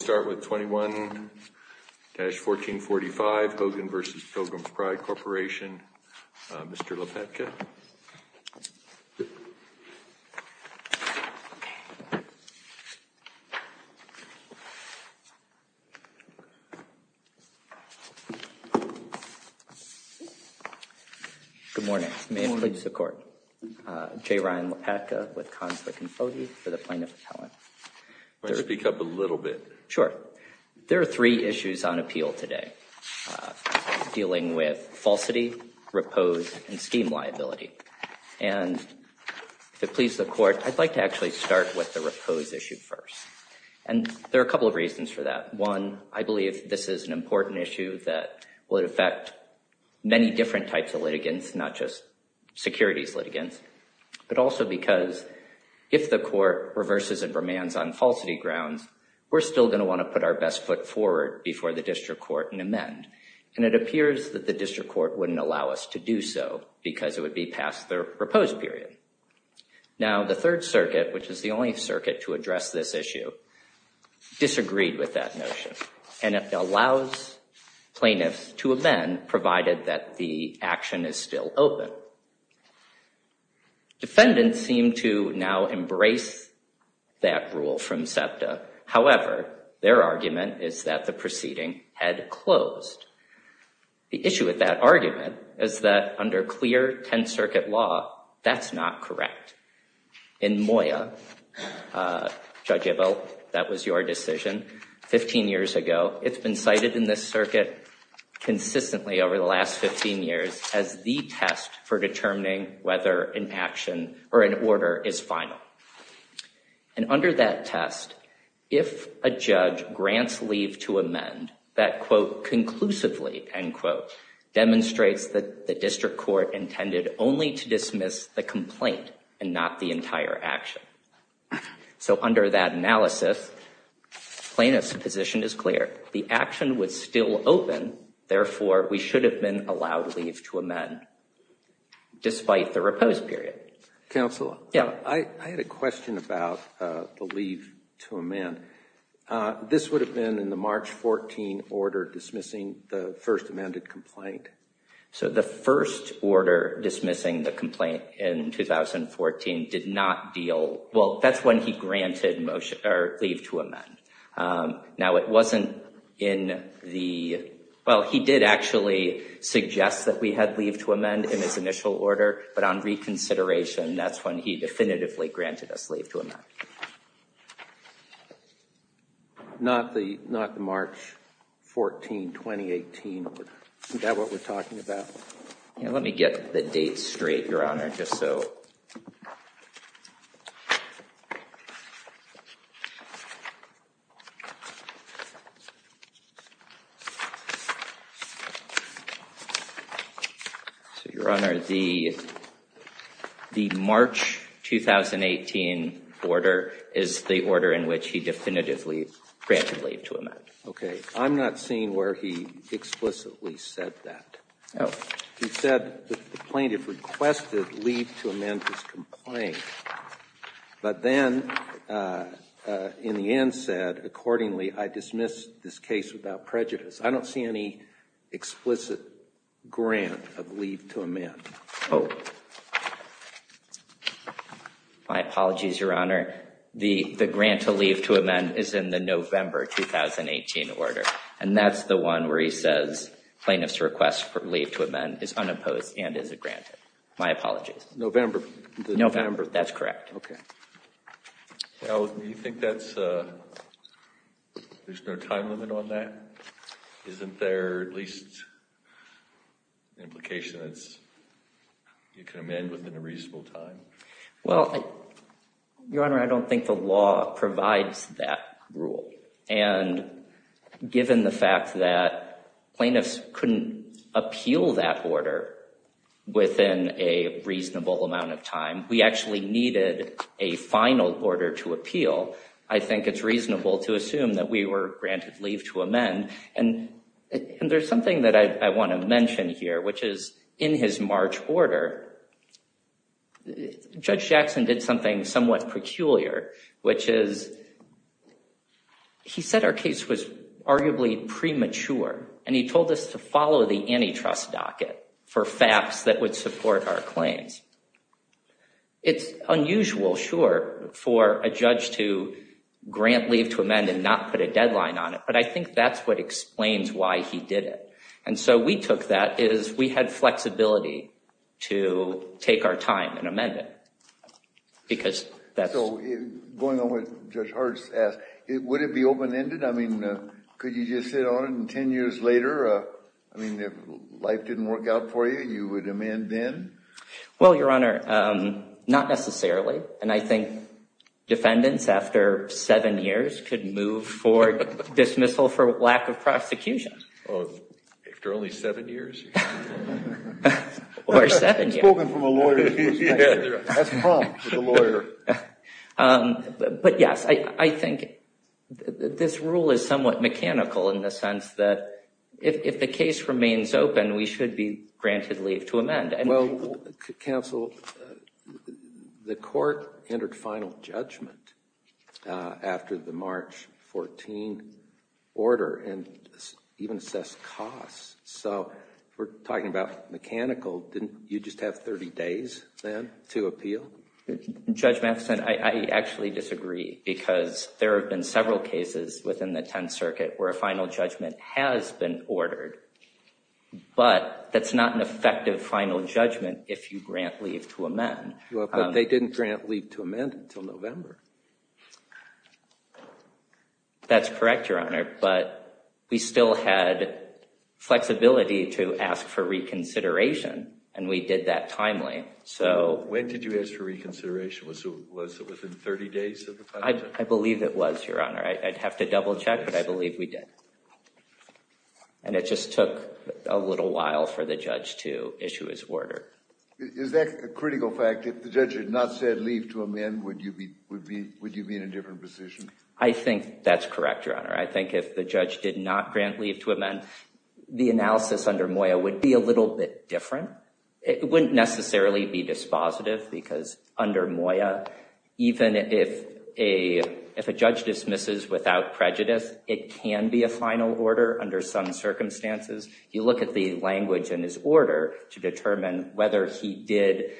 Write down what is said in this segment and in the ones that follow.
Let's start with 21-1445, Hogan v. Pilgrim's Pride Corporation, Mr. LePetka. Good morning. May it please the Court. J. Ryan LePetka with Conflict and Poverty for the Plaintiff Appellant. Why don't you speak up a little bit? Sure. There are three issues on appeal today, dealing with falsity, repose, and scheme liability. And if it pleases the Court, I'd like to actually start with the repose issue first. And there are a couple of reasons for that. One, I believe this is an important issue that will affect many different types of litigants, not just securities litigants, but also because if the Court reverses and remands on falsity grounds, we're still going to want to put our best foot forward before the district court and amend. And it appears that the district court wouldn't allow us to do so because it would be past the repose period. Now, the Third Circuit, which is the only circuit to address this issue, disagreed with that notion. And it allows plaintiffs to amend, provided that the action is still open. Defendants seem to now embrace that rule from SEPTA. However, their argument is that the proceeding had closed. The issue with that argument is that under clear Tenth Circuit law, that's not correct. In MOYA, Judge Ebel, that was your decision 15 years ago. It's been cited in this circuit consistently over the last 15 years as the test for determining whether an action or an order is final. And under that test, if a judge grants leave to amend, that, quote, conclusively, end quote, demonstrates that the district court intended only to dismiss the complaint and not the entire action. So under that analysis, plaintiff's position is clear. The action was still open. Therefore, we should have been allowed leave to amend, despite the repose period. Counsel, I had a question about the leave to amend. This would have been in the March 14 order dismissing the first amended complaint. So the first order dismissing the complaint in 2014 did not deal. Well, that's when he granted leave to amend. Now, it wasn't in the, well, he did actually suggest that we had leave to amend in his initial order. But on reconsideration, that's when he definitively granted us leave to amend. Not the March 14, 2018 order. Is that what we're talking about? Let me get the dates straight, Your Honor, just so. So, Your Honor, the March 2018 order is the order in which he definitively granted leave to amend. Okay. I'm not seeing where he explicitly said that. No. He said the plaintiff requested leave to amend this complaint. But then, in the end, said, accordingly, I dismiss this case without prejudice. I don't see any explicit grant of leave to amend. Oh. My apologies, Your Honor. The grant to leave to amend is in the November 2018 order. And that's the one where he says plaintiff's request for leave to amend is unopposed and is a granted. My apologies. November. November. That's correct. Okay. Do you think there's no time limit on that? Isn't there at least an implication that you can amend within a reasonable time? Well, Your Honor, I don't think the law provides that rule. And given the fact that plaintiffs couldn't appeal that order within a reasonable amount of time, we actually needed a final order to appeal. I think it's reasonable to assume that we were granted leave to amend. And there's something that I want to mention here, which is in his March order, Judge Jackson did something somewhat peculiar, which is he said our case was arguably premature. And he told us to follow the antitrust docket for FAPs that would support our claims. It's unusual, sure, for a judge to grant leave to amend and not put a deadline on it. But I think that's what explains why he did it. And so we took that as we had flexibility to take our time and amend it. So going on what Judge Hart asked, would it be open-ended? I mean, could you just sit on it and 10 years later, I mean, if life didn't work out for you, you would amend then? Well, Your Honor, not necessarily. And I think defendants after seven years could move for dismissal for lack of prosecution. After only seven years? Spoken from a lawyer's perspective. That's prompt for the lawyer. But yes, I think this rule is somewhat mechanical in the sense that if the case remains open, we should be granted leave to amend. Well, counsel, the court entered final judgment after the March 14 order and even assessed costs. So if we're talking about mechanical, didn't you just have 30 days then to appeal? Judge Matheson, I actually disagree because there have been several cases within the Tenth Circuit where a final judgment has been ordered. But that's not an effective final judgment if you grant leave to amend. But they didn't grant leave to amend until November. That's correct, Your Honor. But we still had flexibility to ask for reconsideration, and we did that timely. When did you ask for reconsideration? Was it within 30 days of the final judgment? I believe it was, Your Honor. I'd have to double check, but I believe we did. And it just took a little while for the judge to issue his order. Is that a critical fact? If the judge had not said leave to amend, would you be in a different position? I think that's correct, Your Honor. I think if the judge did not grant leave to amend, the analysis under Moya would be a little bit different. It wouldn't necessarily be dispositive because under Moya, even if a judge dismisses without prejudice, it can be a final order under some circumstances. You look at the language in his order to determine whether he did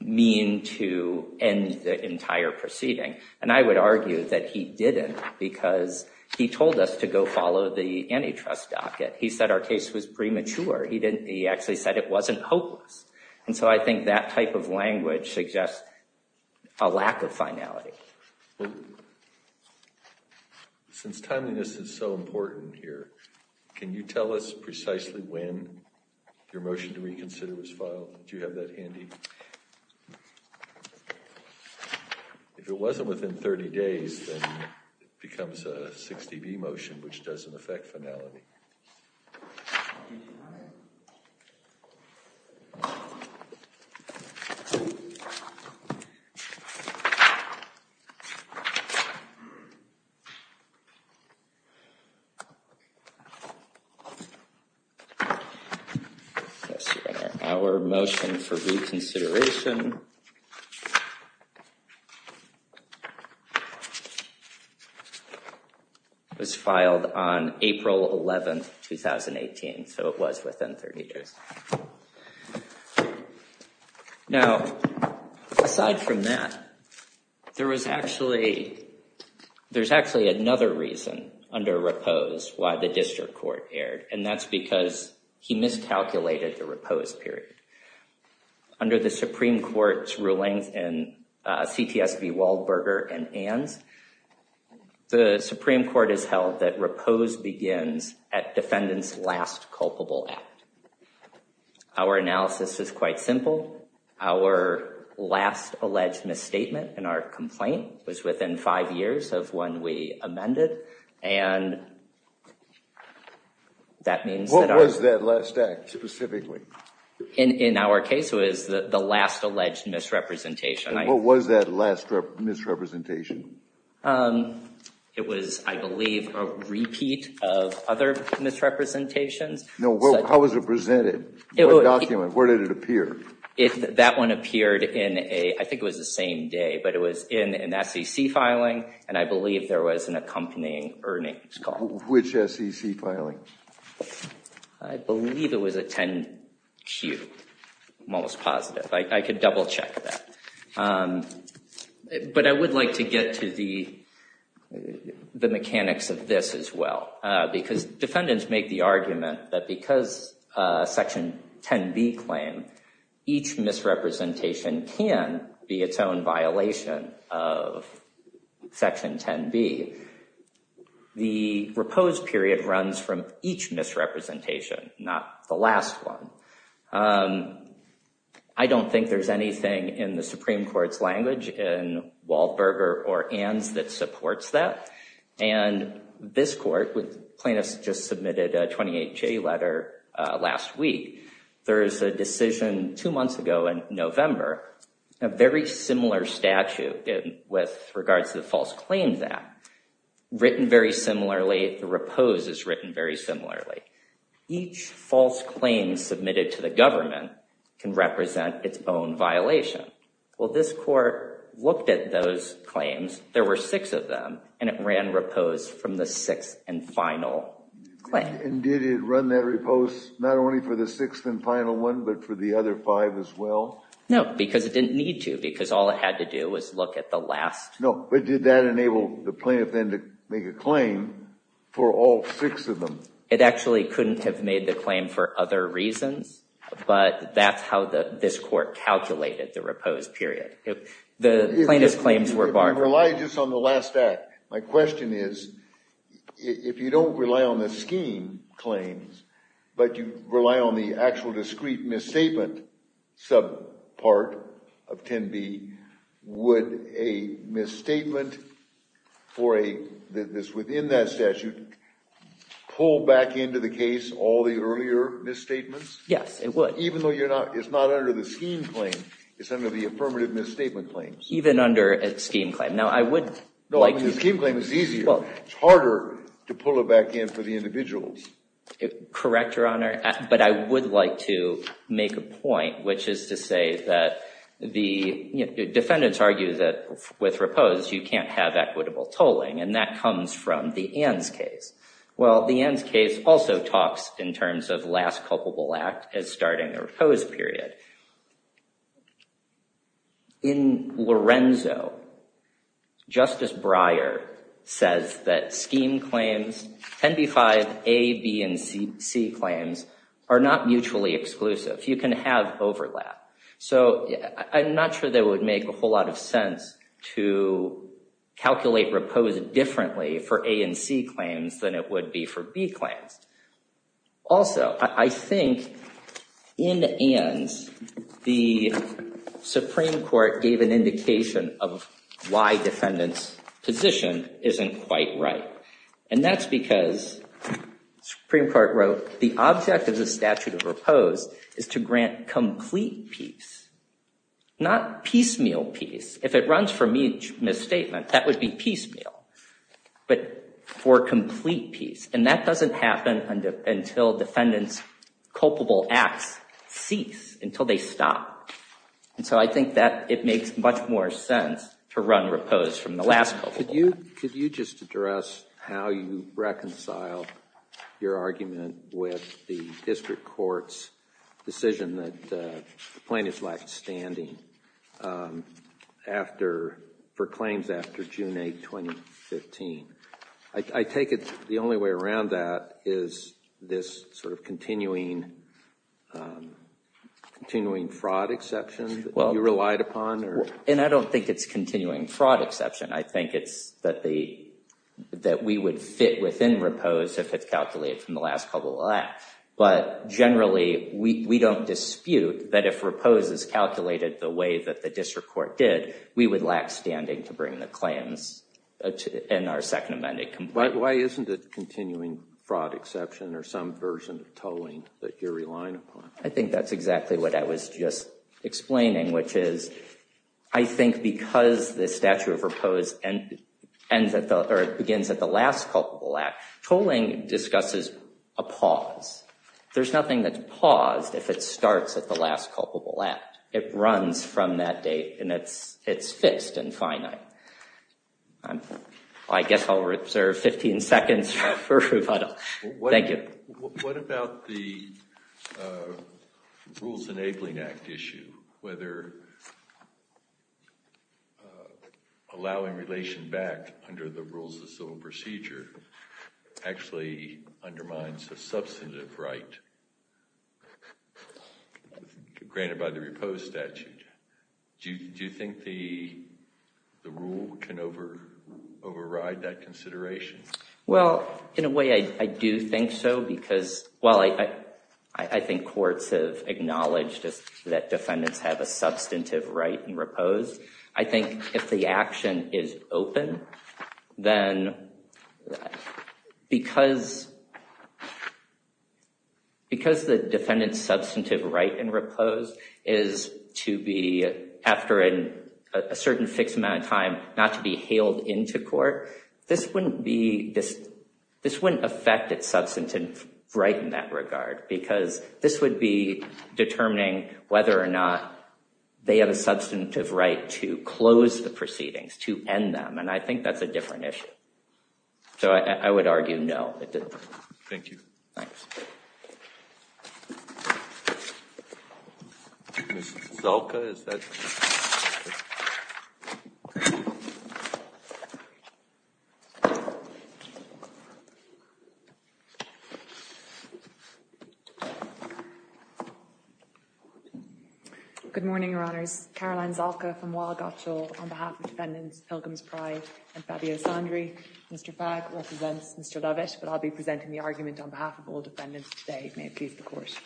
mean to end the entire proceeding. And I would argue that he didn't because he told us to go follow the antitrust docket. He said our case was premature. He actually said it wasn't hopeless. And so I think that type of language suggests a lack of finality. Well, since timeliness is so important here, can you tell us precisely when your motion to reconsider was filed? Do you have that handy? If it wasn't within 30 days, then it becomes a 60-B motion, which doesn't affect finality. Yes, Your Honor. Our motion for reconsideration was filed on April 11, 2018. So it was within 30 days. Now, aside from that, there was actually another reason under repose why the district court erred. And that's because he miscalculated the repose period. Under the Supreme Court's rulings in CTSB Waldberger and Ann's, the Supreme Court has held that repose begins at defendant's last culpable act. Our analysis is quite simple. Our last alleged misstatement in our complaint was within five years of when we amended. What was that last act specifically? In our case, it was the last alleged misrepresentation. What was that last misrepresentation? It was, I believe, a repeat of other misrepresentations. How was it presented? What document? Where did it appear? That one appeared in, I think it was the same day, but it was in an SEC filing, and I believe there was an accompanying earnings call. Which SEC filing? I believe it was a 10-Q. I'm almost positive. I could double-check that. But I would like to get to the mechanics of this as well, because defendants make the argument that because Section 10B claim, each misrepresentation can be its own violation of Section 10B. The repose period runs from each misrepresentation, not the last one. I don't think there's anything in the Supreme Court's language in Waldberger or Ann's that supports that, and this court, plaintiffs just submitted a 28-J letter last week. There is a decision two months ago in November, a very similar statute with regards to the False Claims Act, written very similarly. The repose is written very similarly. Each false claim submitted to the government can represent its own violation. Well, this court looked at those claims. There were six of them, and it ran repose from the sixth and final claim. And did it run that repose not only for the sixth and final one, but for the other five as well? No, because it didn't need to, because all it had to do was look at the last. No, but did that enable the plaintiff then to make a claim for all six of them? It actually couldn't have made the claim for other reasons, but that's how this court calculated the repose period. If you rely just on the last act, my question is, if you don't rely on the scheme claims, but you rely on the actual discrete misstatement subpart of 10B, would a misstatement that's within that statute pull back into the case all the earlier misstatements? Yes, it would. Even though it's not under the scheme claim, it's under the affirmative misstatement claims? Even under a scheme claim. Now, I would like to— No, I mean, the scheme claim is easier. Well— It's harder to pull it back in for the individuals. Correct, Your Honor, but I would like to make a point, which is to say that the defendants argue that with repose you can't have equitable tolling, and that comes from the Ann's case. Well, the Ann's case also talks in terms of last culpable act as starting a repose period. In Lorenzo, Justice Breyer says that scheme claims, 10B-5, A, B, and C claims, are not mutually exclusive. You can have overlap. So, I'm not sure that it would make a whole lot of sense to calculate repose differently for A and C claims than it would be for B claims. Also, I think in Ann's, the Supreme Court gave an indication of why defendants' position isn't quite right. And that's because, Supreme Court wrote, the object of the statute of repose is to grant complete peace, not piecemeal peace. If it runs for misstatement, that would be piecemeal, but for complete peace. And that doesn't happen until defendants' culpable acts cease, until they stop. And so I think that it makes much more sense to run repose from the last culpable act. Could you just address how you reconcile your argument with the district court's decision that plaintiffs lacked standing for claims after June 8, 2015? I take it the only way around that is this sort of continuing fraud exception that you relied upon? And I don't think it's continuing fraud exception. I think it's that we would fit within repose if it's calculated from the last culpable act. But generally, we don't dispute that if repose is calculated the way that the district court did, we would lack standing to bring the claims in our second amended complaint. Why isn't it continuing fraud exception or some version of tolling that you're relying upon? I think that's exactly what I was just explaining, which is, I think because the statute of repose begins at the last culpable act, tolling discusses a pause. There's nothing that's paused if it starts at the last culpable act. It runs from that date, and it's fixed and finite. I guess I'll reserve 15 seconds for rebuttal. Thank you. What about the Rules Enabling Act issue, whether allowing relation back under the rules of civil procedure actually undermines a substantive right granted by the repose statute? Do you think the rule can override that consideration? Well, in a way, I do think so, because while I think courts have acknowledged that defendants have a substantive right in repose, I think if the action is open, then because the defendant's substantive right in repose is to be, after a certain fixed amount of time, not to be hailed into court, this wouldn't affect its substantive right in that regard, because this would be determining whether or not they have a substantive right to close the proceedings, to end them, and I think that's a different issue. So I would argue no. Thank you. Thanks. Ms. Zalka, is that? Good morning, Your Honours. Caroline Zalka from Waugh Gotshal on behalf of defendants Pilgrim's Pride and Fabio Sandri. Mr. Fagg represents Mr. Lovett, but I'll be presenting the argument on behalf of all defendants today. May it please the Court.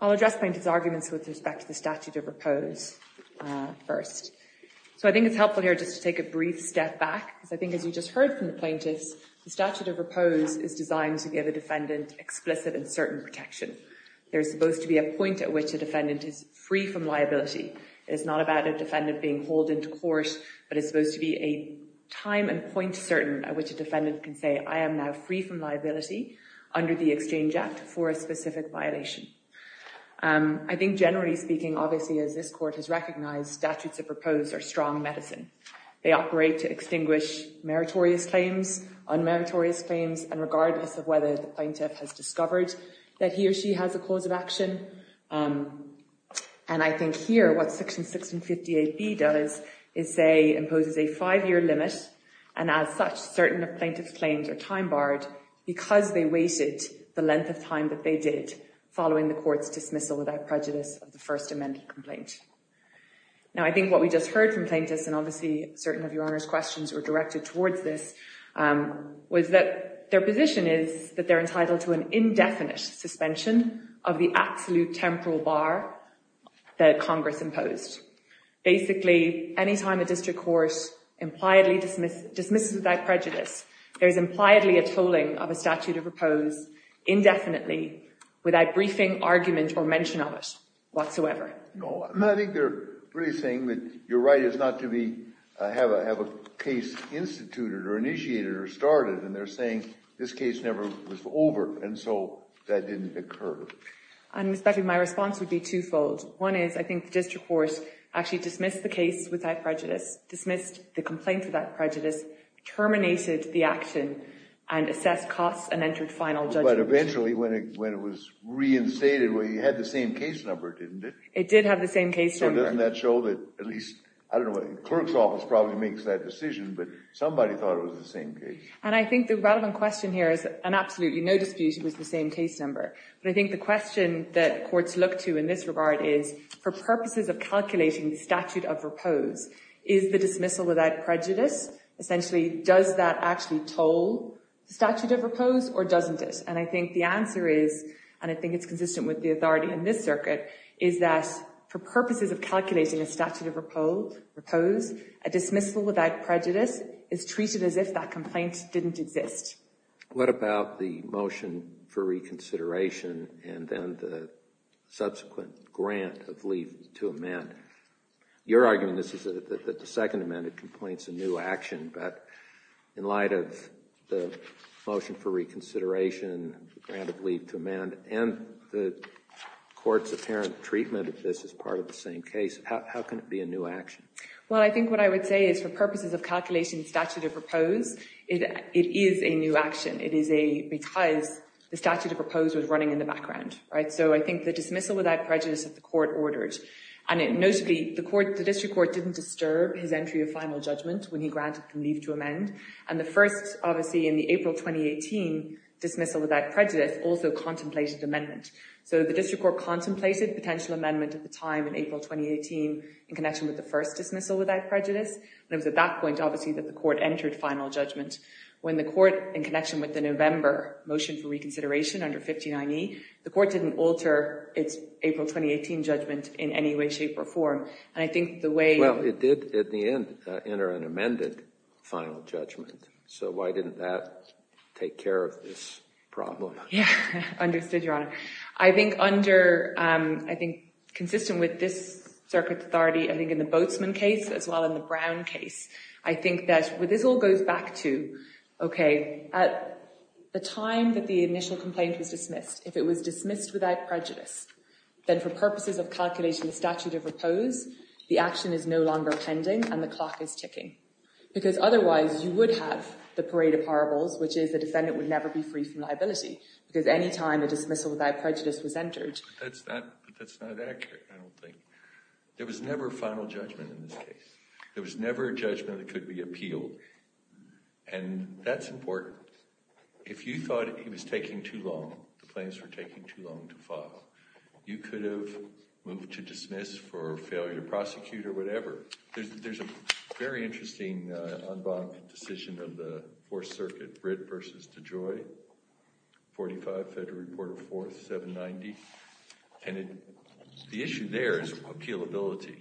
I'll address plaintiffs' arguments with respect to the statute of repose first. So I think it's helpful here just to take a brief step back, because I think, as you just heard from the plaintiffs, the statute of repose is designed to give a defendant explicit and certain protection. There's supposed to be a point at which a defendant is free from liability. It's not about a defendant being hauled into court, but it's supposed to be a time and point certain at which a defendant can say, I am now free from liability under the Exchange Act for a specific violation. I think generally speaking, obviously, as this Court has recognized, statutes of repose are strong medicine. They operate to extinguish meritorious claims, unmeritorious claims, and regardless of whether the plaintiff has discovered that he or she has a cause of action. And I think here what Section 1658B does is say, imposes a five-year limit, and as such, certain plaintiff's claims are time-barred because they waited the length of time that they did following the Court's dismissal without prejudice of the First Amendment complaint. Now, I think what we just heard from plaintiffs, and obviously certain of Your Honor's questions were directed towards this, was that their position is that they're entitled to an indefinite suspension of the absolute temporal bar that Congress imposed. Basically, any time a district court impliedly dismisses without prejudice, there is impliedly a tolling of a statute of repose indefinitely without briefing, argument, or mention of it whatsoever. No, I think they're really saying that your right is not to have a case instituted or initiated or started, and they're saying this case never was over, and so that didn't occur. And, Mr. Becker, my response would be twofold. One is I think the district court actually dismissed the case without prejudice, dismissed the complaint without prejudice, terminated the action, and assessed costs and entered final judgment. But eventually, when it was reinstated, well, you had the same case number, didn't you? It did have the same case number. So doesn't that show that at least, I don't know, the clerk's office probably makes that decision, but somebody thought it was the same case. And I think the relevant question here is, and absolutely no dispute, it was the same case number. But I think the question that courts look to in this regard is, for purposes of calculating statute of repose, is the dismissal without prejudice essentially does that actually toll statute of repose or doesn't it? And I think the answer is, and I think it's consistent with the authority in this circuit, is that for purposes of calculating a statute of repose, a dismissal without prejudice is treated as if that complaint didn't exist. What about the motion for reconsideration and then the subsequent grant of leave to amend? You're arguing that the second amendment complaints a new action. But in light of the motion for reconsideration, grant of leave to amend, and the court's apparent treatment of this as part of the same case, how can it be a new action? Well, I think what I would say is, for purposes of calculating statute of repose, it is a new action. It is because the statute of repose was running in the background. So I think the dismissal without prejudice that the court ordered. And notably, the district court didn't disturb his entry of final judgment when he granted leave to amend. And the first, obviously, in the April 2018 dismissal without prejudice also contemplated amendment. So the district court contemplated potential amendment at the time in April 2018 in connection with the first dismissal without prejudice. And it was at that point, obviously, that the court entered final judgment. When the court, in connection with the November motion for reconsideration under 59E, the court didn't alter its April 2018 judgment in any way, shape, or form. And I think the way- Well, it did, at the end, enter an amended final judgment. So why didn't that take care of this problem? Yeah, understood, Your Honor. I think consistent with this circuit's authority, I think in the Boatsman case, as well in the Brown case, I think that this all goes back to, okay, at the time that the initial complaint was dismissed, if it was dismissed without prejudice, then for purposes of calculating the statute of repose, the action is no longer pending and the clock is ticking. Because otherwise, you would have the parade of horribles, which is the defendant would never be free from liability. Because any time a dismissal without prejudice was entered- That's not accurate, I don't think. There was never final judgment in this case. There was never a judgment that could be appealed. And that's important. If you thought he was taking too long, the claims were taking too long to file, you could have moved to dismiss for failure to prosecute or whatever. There's a very interesting unbiased decision of the Fourth Circuit, Britt v. DeJoy, 45 Federal Reporter 4th, 790. And the issue there is appealability.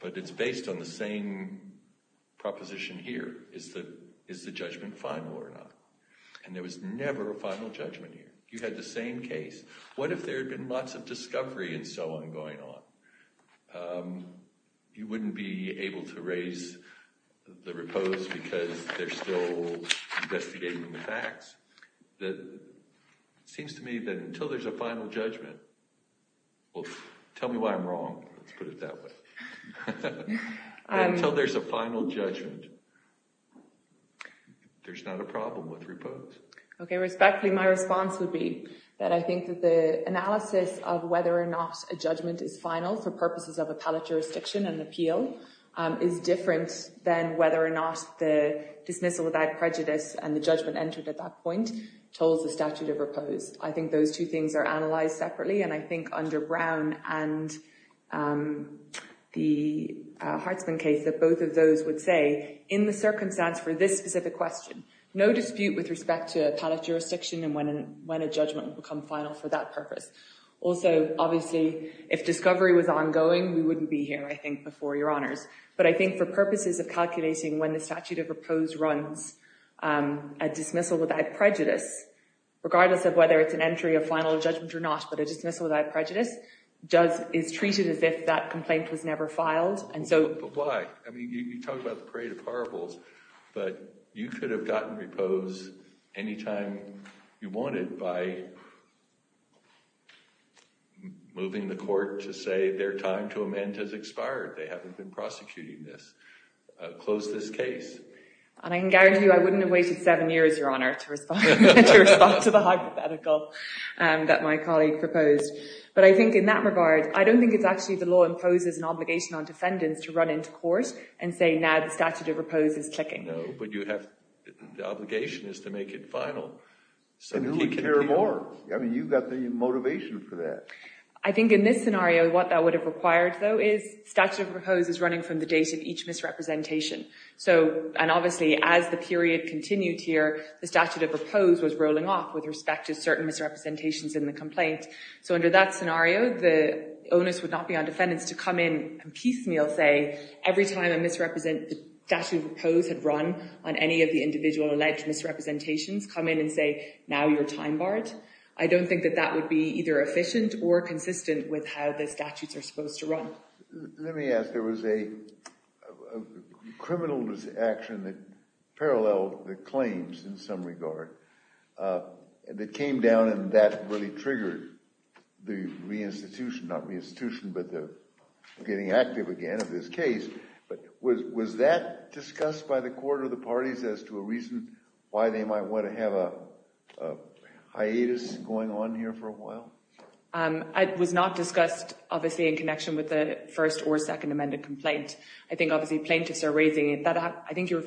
But it's based on the same proposition here. Is the judgment final or not? And there was never a final judgment here. You had the same case. What if there had been lots of discovery and so on going on? You wouldn't be able to raise the repose because they're still investigating the facts. It seems to me that until there's a final judgment- Well, tell me why I'm wrong, let's put it that way. Until there's a final judgment, there's not a problem with repose. Okay, respectfully, my response would be that I think that the analysis of whether or not a judgment is final for purposes of appellate jurisdiction and appeal is different than whether or not the dismissal without prejudice and the judgment entered at that point told the statute of repose. I think those two things are analyzed separately. And I think under Brown and the Hartsman case that both of those would say, in the circumstance for this specific question, no dispute with respect to appellate jurisdiction and when a judgment would become final for that purpose. Also, obviously, if discovery was ongoing, we wouldn't be here, I think, before your honors. But I think for purposes of calculating when the statute of repose runs, a dismissal without prejudice, regardless of whether it's an entry of final judgment or not, but a dismissal without prejudice is treated as if that complaint was never filed. But why? I mean, you talk about the parade of horribles, but you could have gotten repose any time you wanted by moving the court to say their time to amend has expired. They haven't been prosecuting this. Close this case. And I can guarantee you I wouldn't have waited seven years, your honor, to respond to the hypothetical that my colleague proposed. But I think in that regard, I don't think it's actually the law imposes an obligation on defendants to run into court and say now the statute of repose is ticking. No, but you have the obligation is to make it final. And who would care more? I mean, you've got the motivation for that. I think in this scenario, what that would have required, though, is statute of repose is running from the date of each misrepresentation. And obviously, as the period continued here, the statute of repose was rolling off with respect to certain misrepresentations in the complaint. So under that scenario, the onus would not be on defendants to come in and piecemeal say every time a statute of repose had run on any of the individual alleged misrepresentations, come in and say now your time barred. I don't think that that would be either efficient or consistent with how the statutes are supposed to run. Let me ask. There was a criminal action that paralleled the claims in some regard that came down and that really triggered the reinstitution, not reinstitution but the getting active again of this case. But was that discussed by the court or the parties as to a reason why they might want to have a hiatus going on here for a while? It was not discussed, obviously, in connection with the first or second amended complaint. I think obviously plaintiffs are raising it. I think the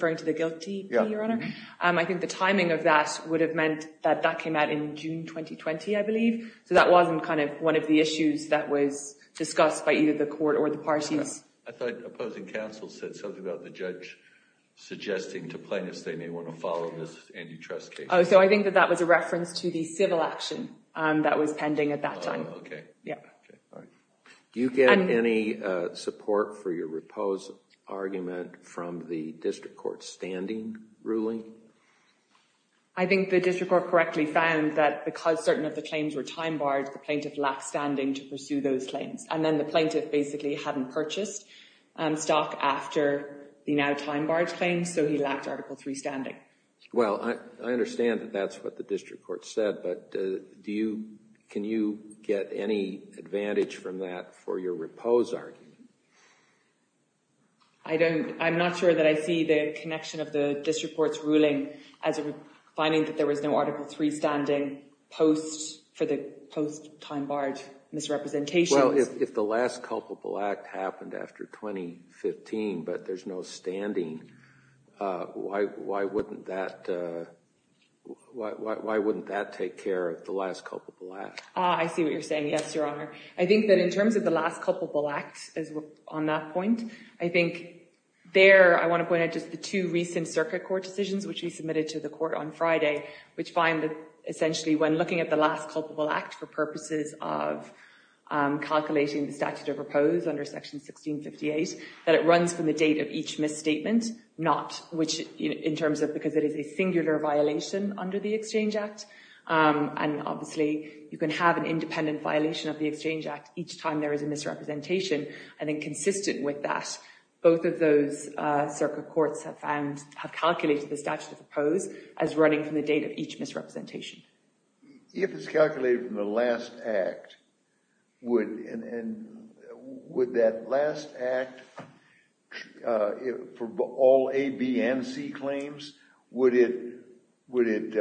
timing of that would have meant that that came out in June 2020, I believe. So that wasn't kind of one of the issues that was discussed by either the court or the parties. I thought opposing counsel said something about the judge suggesting to plaintiffs they may want to follow this antitrust case. So I think that that was a reference to the civil action that was pending at that time. Do you get any support for your repose argument from the district court's standing ruling? I think the district court correctly found that because certain of the claims were time barred, the plaintiff lacked standing to pursue those claims. And then the plaintiff basically hadn't purchased stock after the now time barred claims, so he lacked Article III standing. Well, I understand that that's what the district court said, but can you get any advantage from that for your repose argument? I'm not sure that I see the connection of the district court's ruling as finding that there was no Article III standing for the post-time barred misrepresentation. Well, if the last culpable act happened after 2015, but there's no standing, why wouldn't that take care of the last culpable act? I see what you're saying, yes, Your Honor. I think that in terms of the last culpable act on that point, I think there, I want to point out just the two recent circuit court decisions, which we submitted to the court on Friday, which find that essentially when looking at the last culpable act for purposes of calculating the statute of repose under Section 1658, that it runs from the date of each misstatement, not, which in terms of because it is a singular violation under the Exchange Act. And obviously, you can have an independent violation of the Exchange Act each time there is a misrepresentation. And then consistent with that, both of those circuit courts have found, have calculated the statute of repose as running from the date of each misrepresentation. If it's calculated from the last act, would, and would that last act for all A, B, and C claims, would it, would it,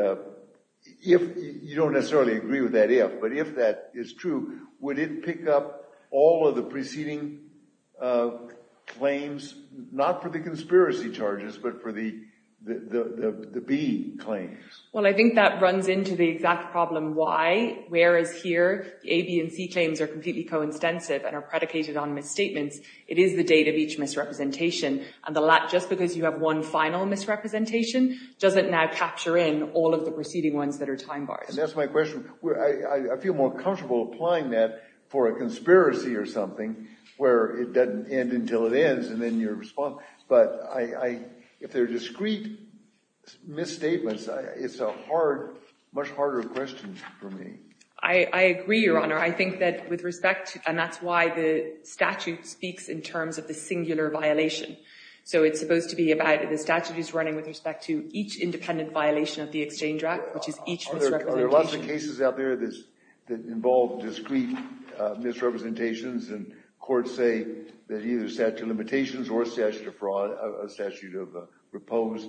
if you don't necessarily agree with that if, but if that is true, would it pick up all of the preceding claims, not for the conspiracy charges, but for the B claims? Well, I think that runs into the exact problem why. Whereas here, A, B, and C claims are completely coincident and are predicated on misstatements, it is the date of each misrepresentation. And the last, just because you have one final misrepresentation, doesn't now capture in all of the preceding ones that are time bars. And that's my question. I feel more comfortable applying that for a conspiracy or something where it doesn't end until it ends, and then you respond. But if they're discrete misstatements, it's a hard, much harder question for me. I agree, Your Honor. I think that with respect to, and that's why the statute speaks in terms of the singular violation. So it's supposed to be about, the statute is running with respect to each independent violation of the Exchange Act, which is each misrepresentation. Are there lots of cases out there that involve discrete misrepresentations, and courts say that either statute of limitations or statute of fraud, a statute of repose,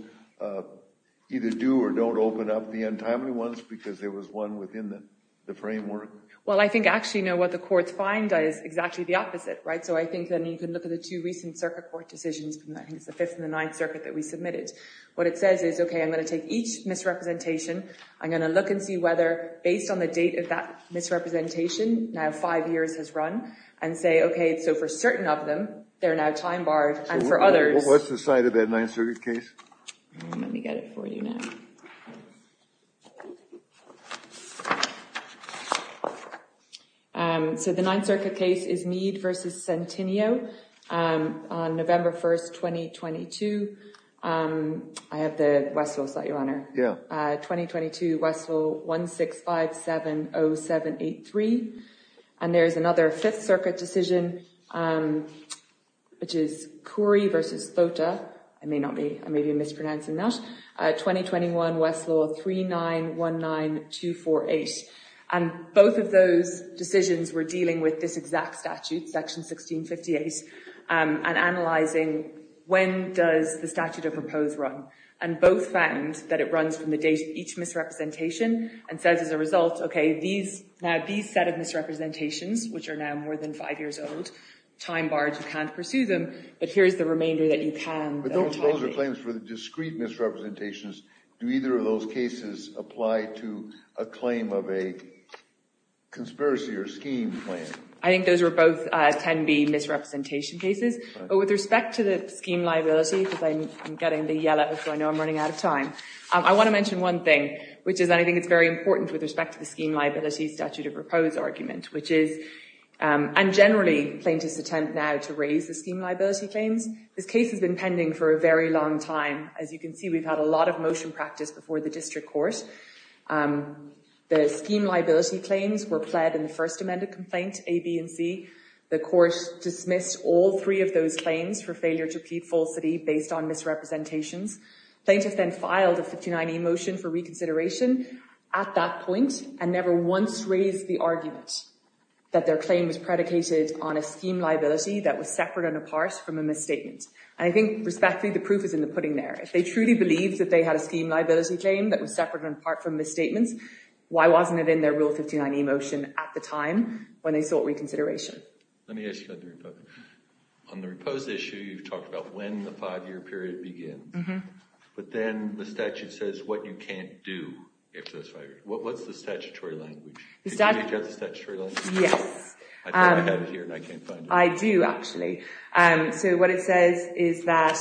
either do or don't open up the untimely ones because there was one within the framework? Well, I think actually, you know, what the courts find is exactly the opposite, right? So I think that you can look at the two recent circuit court decisions, and I think it's the Fifth and the Ninth Circuit that we submitted. What it says is, okay, I'm going to take each misrepresentation. I'm going to look and see whether, based on the date of that misrepresentation, now five years has run, and say, okay, so for certain of them, they're now time barred. And for others… What's the site of that Ninth Circuit case? Let me get it for you now. So the Ninth Circuit case is Meade v. Centineo on November 1, 2022. I have the Westlaw site, Your Honor. Yeah. 2022, Westlaw 16570783. And there's another Fifth Circuit decision, which is Currie v. Thota. I may be mispronouncing that. 2021 Westlaw 3919248. And both of those decisions were dealing with this exact statute, Section 1658, and analyzing when does the statute of repose run. And both found that it runs from the date of each misrepresentation and says, as a result, okay, these set of misrepresentations, which are now more than five years old, time barred. You can't pursue them, but here's the remainder that you can. But those are claims for the discrete misrepresentations. Do either of those cases apply to a claim of a conspiracy or scheme claim? I think those were both 10B misrepresentation cases. With respect to the scheme liability, because I'm getting the yellow, so I know I'm running out of time. I want to mention one thing, which is I think it's very important with respect to the scheme liability statute of repose argument, which is, and generally, plaintiffs attempt now to raise the scheme liability claims. This case has been pending for a very long time. As you can see, we've had a lot of motion practice before the district court. The scheme liability claims were pled in the first amended complaint, A, B, and C. The court dismissed all three of those claims for failure to plead falsity based on misrepresentations. Plaintiffs then filed a 59E motion for reconsideration at that point and never once raised the argument that their claim was predicated on a scheme liability that was separate and apart from a misstatement. And I think, respectfully, the proof is in the pudding there. If they truly believed that they had a scheme liability claim that was separate and apart from misstatements, why wasn't it in their Rule 59E motion at the time when they sought reconsideration? Let me ask you another question. On the repose issue, you've talked about when the five-year period begins. But then the statute says what you can't do after those five years. What's the statutory language? Did you reach out to the statutory language? Yes. I thought I had it here, and I can't find it. I do, actually. So what it says is that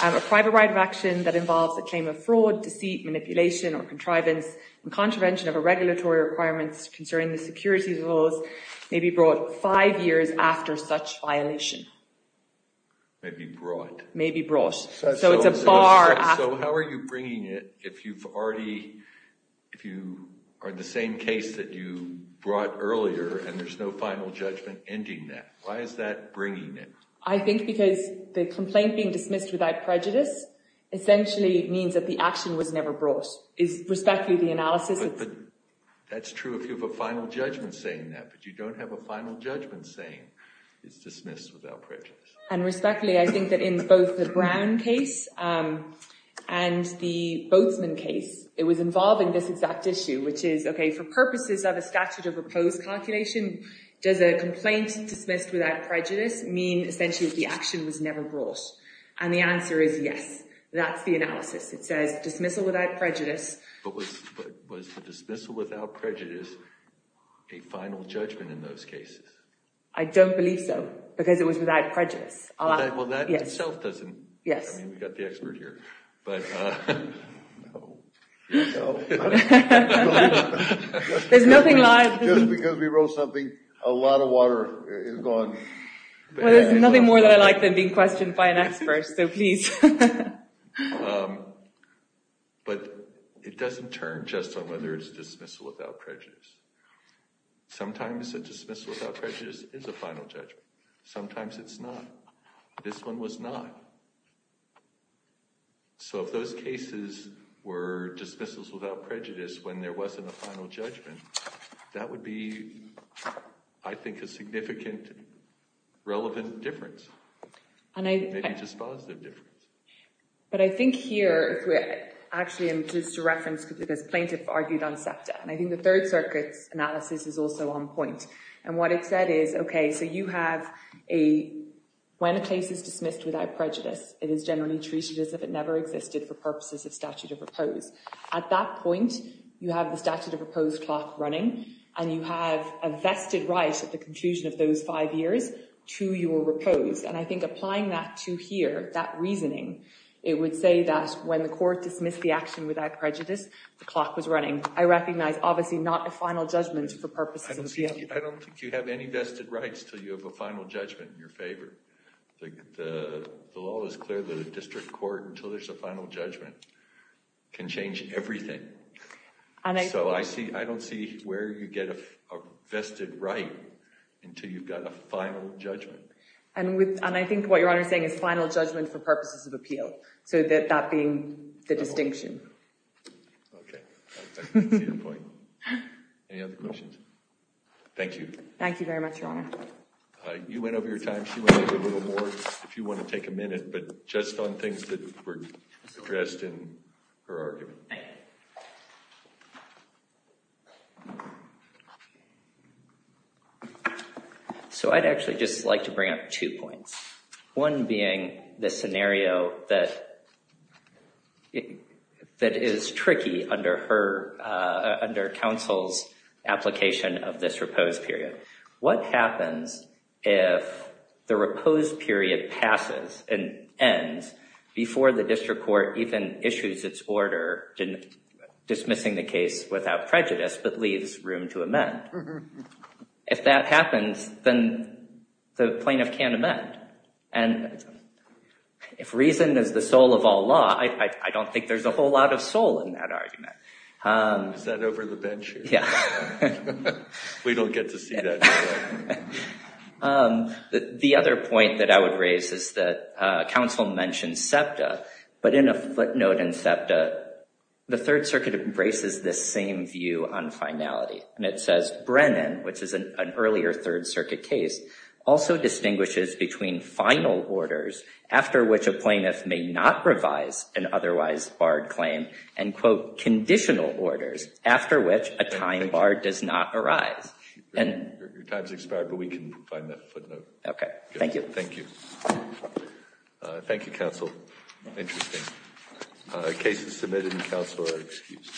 a private right of action that involves the claim of fraud, deceit, manipulation, or contrivance and contravention of a regulatory requirement concerning the securities laws may be brought five years after such violation. May be brought. May be brought. So it's a bar after. Why are you bringing it if you are the same case that you brought earlier, and there's no final judgment ending that? Why is that bringing it? I think because the complaint being dismissed without prejudice essentially means that the action was never brought. Respectfully, the analysis is— But that's true if you have a final judgment saying that. But you don't have a final judgment saying it's dismissed without prejudice. And respectfully, I think that in both the Brown case and the Boatsman case, it was involving this exact issue, which is, okay, for purposes of a statute of repose calculation, does a complaint dismissed without prejudice mean essentially that the action was never brought? And the answer is yes. That's the analysis. It says dismissal without prejudice. But was the dismissal without prejudice a final judgment in those cases? I don't believe so. Because it was without prejudice. Well, that itself doesn't— Yes. I mean, we've got the expert here. But— No. No. There's nothing like— Just because we wrote something, a lot of water is gone. Well, there's nothing more that I like than being questioned by an expert, so please. But it doesn't turn just on whether it's dismissal without prejudice. Sometimes a dismissal without prejudice is a final judgment. Sometimes it's not. This one was not. So if those cases were dismissals without prejudice when there wasn't a final judgment, that would be, I think, a significant relevant difference. Maybe just a positive difference. But I think here—actually, just to reference, because plaintiff argued on SEPTA, and I think the Third Circuit's analysis is also on point. And what it said is, okay, so you have a—when a case is dismissed without prejudice, it is generally treated as if it never existed for purposes of statute of repose. At that point, you have the statute of repose clock running, and you have a vested right at the conclusion of those five years to your repose. And I think applying that to here, that reasoning, it would say that when the court dismissed the action without prejudice, the clock was running. I recognize, obviously, not a final judgment for purposes of— I don't think you have any vested rights until you have a final judgment in your favor. The law is clear that a district court, until there's a final judgment, can change everything. So I don't see where you get a vested right until you've got a final judgment. And I think what Your Honor is saying is final judgment for purposes of appeal. So that being the distinction. Okay. I can see your point. Any other questions? Thank you. Thank you very much, Your Honor. You went over your time. She went over a little more, if you want to take a minute, but just on things that were addressed in her argument. Thank you. Thank you. So I'd actually just like to bring up two points. One being the scenario that is tricky under counsel's application of this repose period. What happens if the repose period passes and ends before the district court even issues its order dismissing the case without prejudice but leaves room to amend? If that happens, then the plaintiff can't amend. And if reason is the soul of all law, I don't think there's a whole lot of soul in that argument. Is that over the bench here? Yeah. We don't get to see that. The other point that I would raise is that counsel mentioned SEPTA. But in a footnote in SEPTA, the Third Circuit embraces this same view on finality. And it says Brennan, which is an earlier Third Circuit case, also distinguishes between final orders, after which a plaintiff may not revise an otherwise barred claim, and, quote, conditional orders, after which a time bar does not arise. Your time's expired, but we can find that footnote. Okay. Thank you. Thank you. Thank you, counsel. Interesting. Cases submitted in counsel are excused.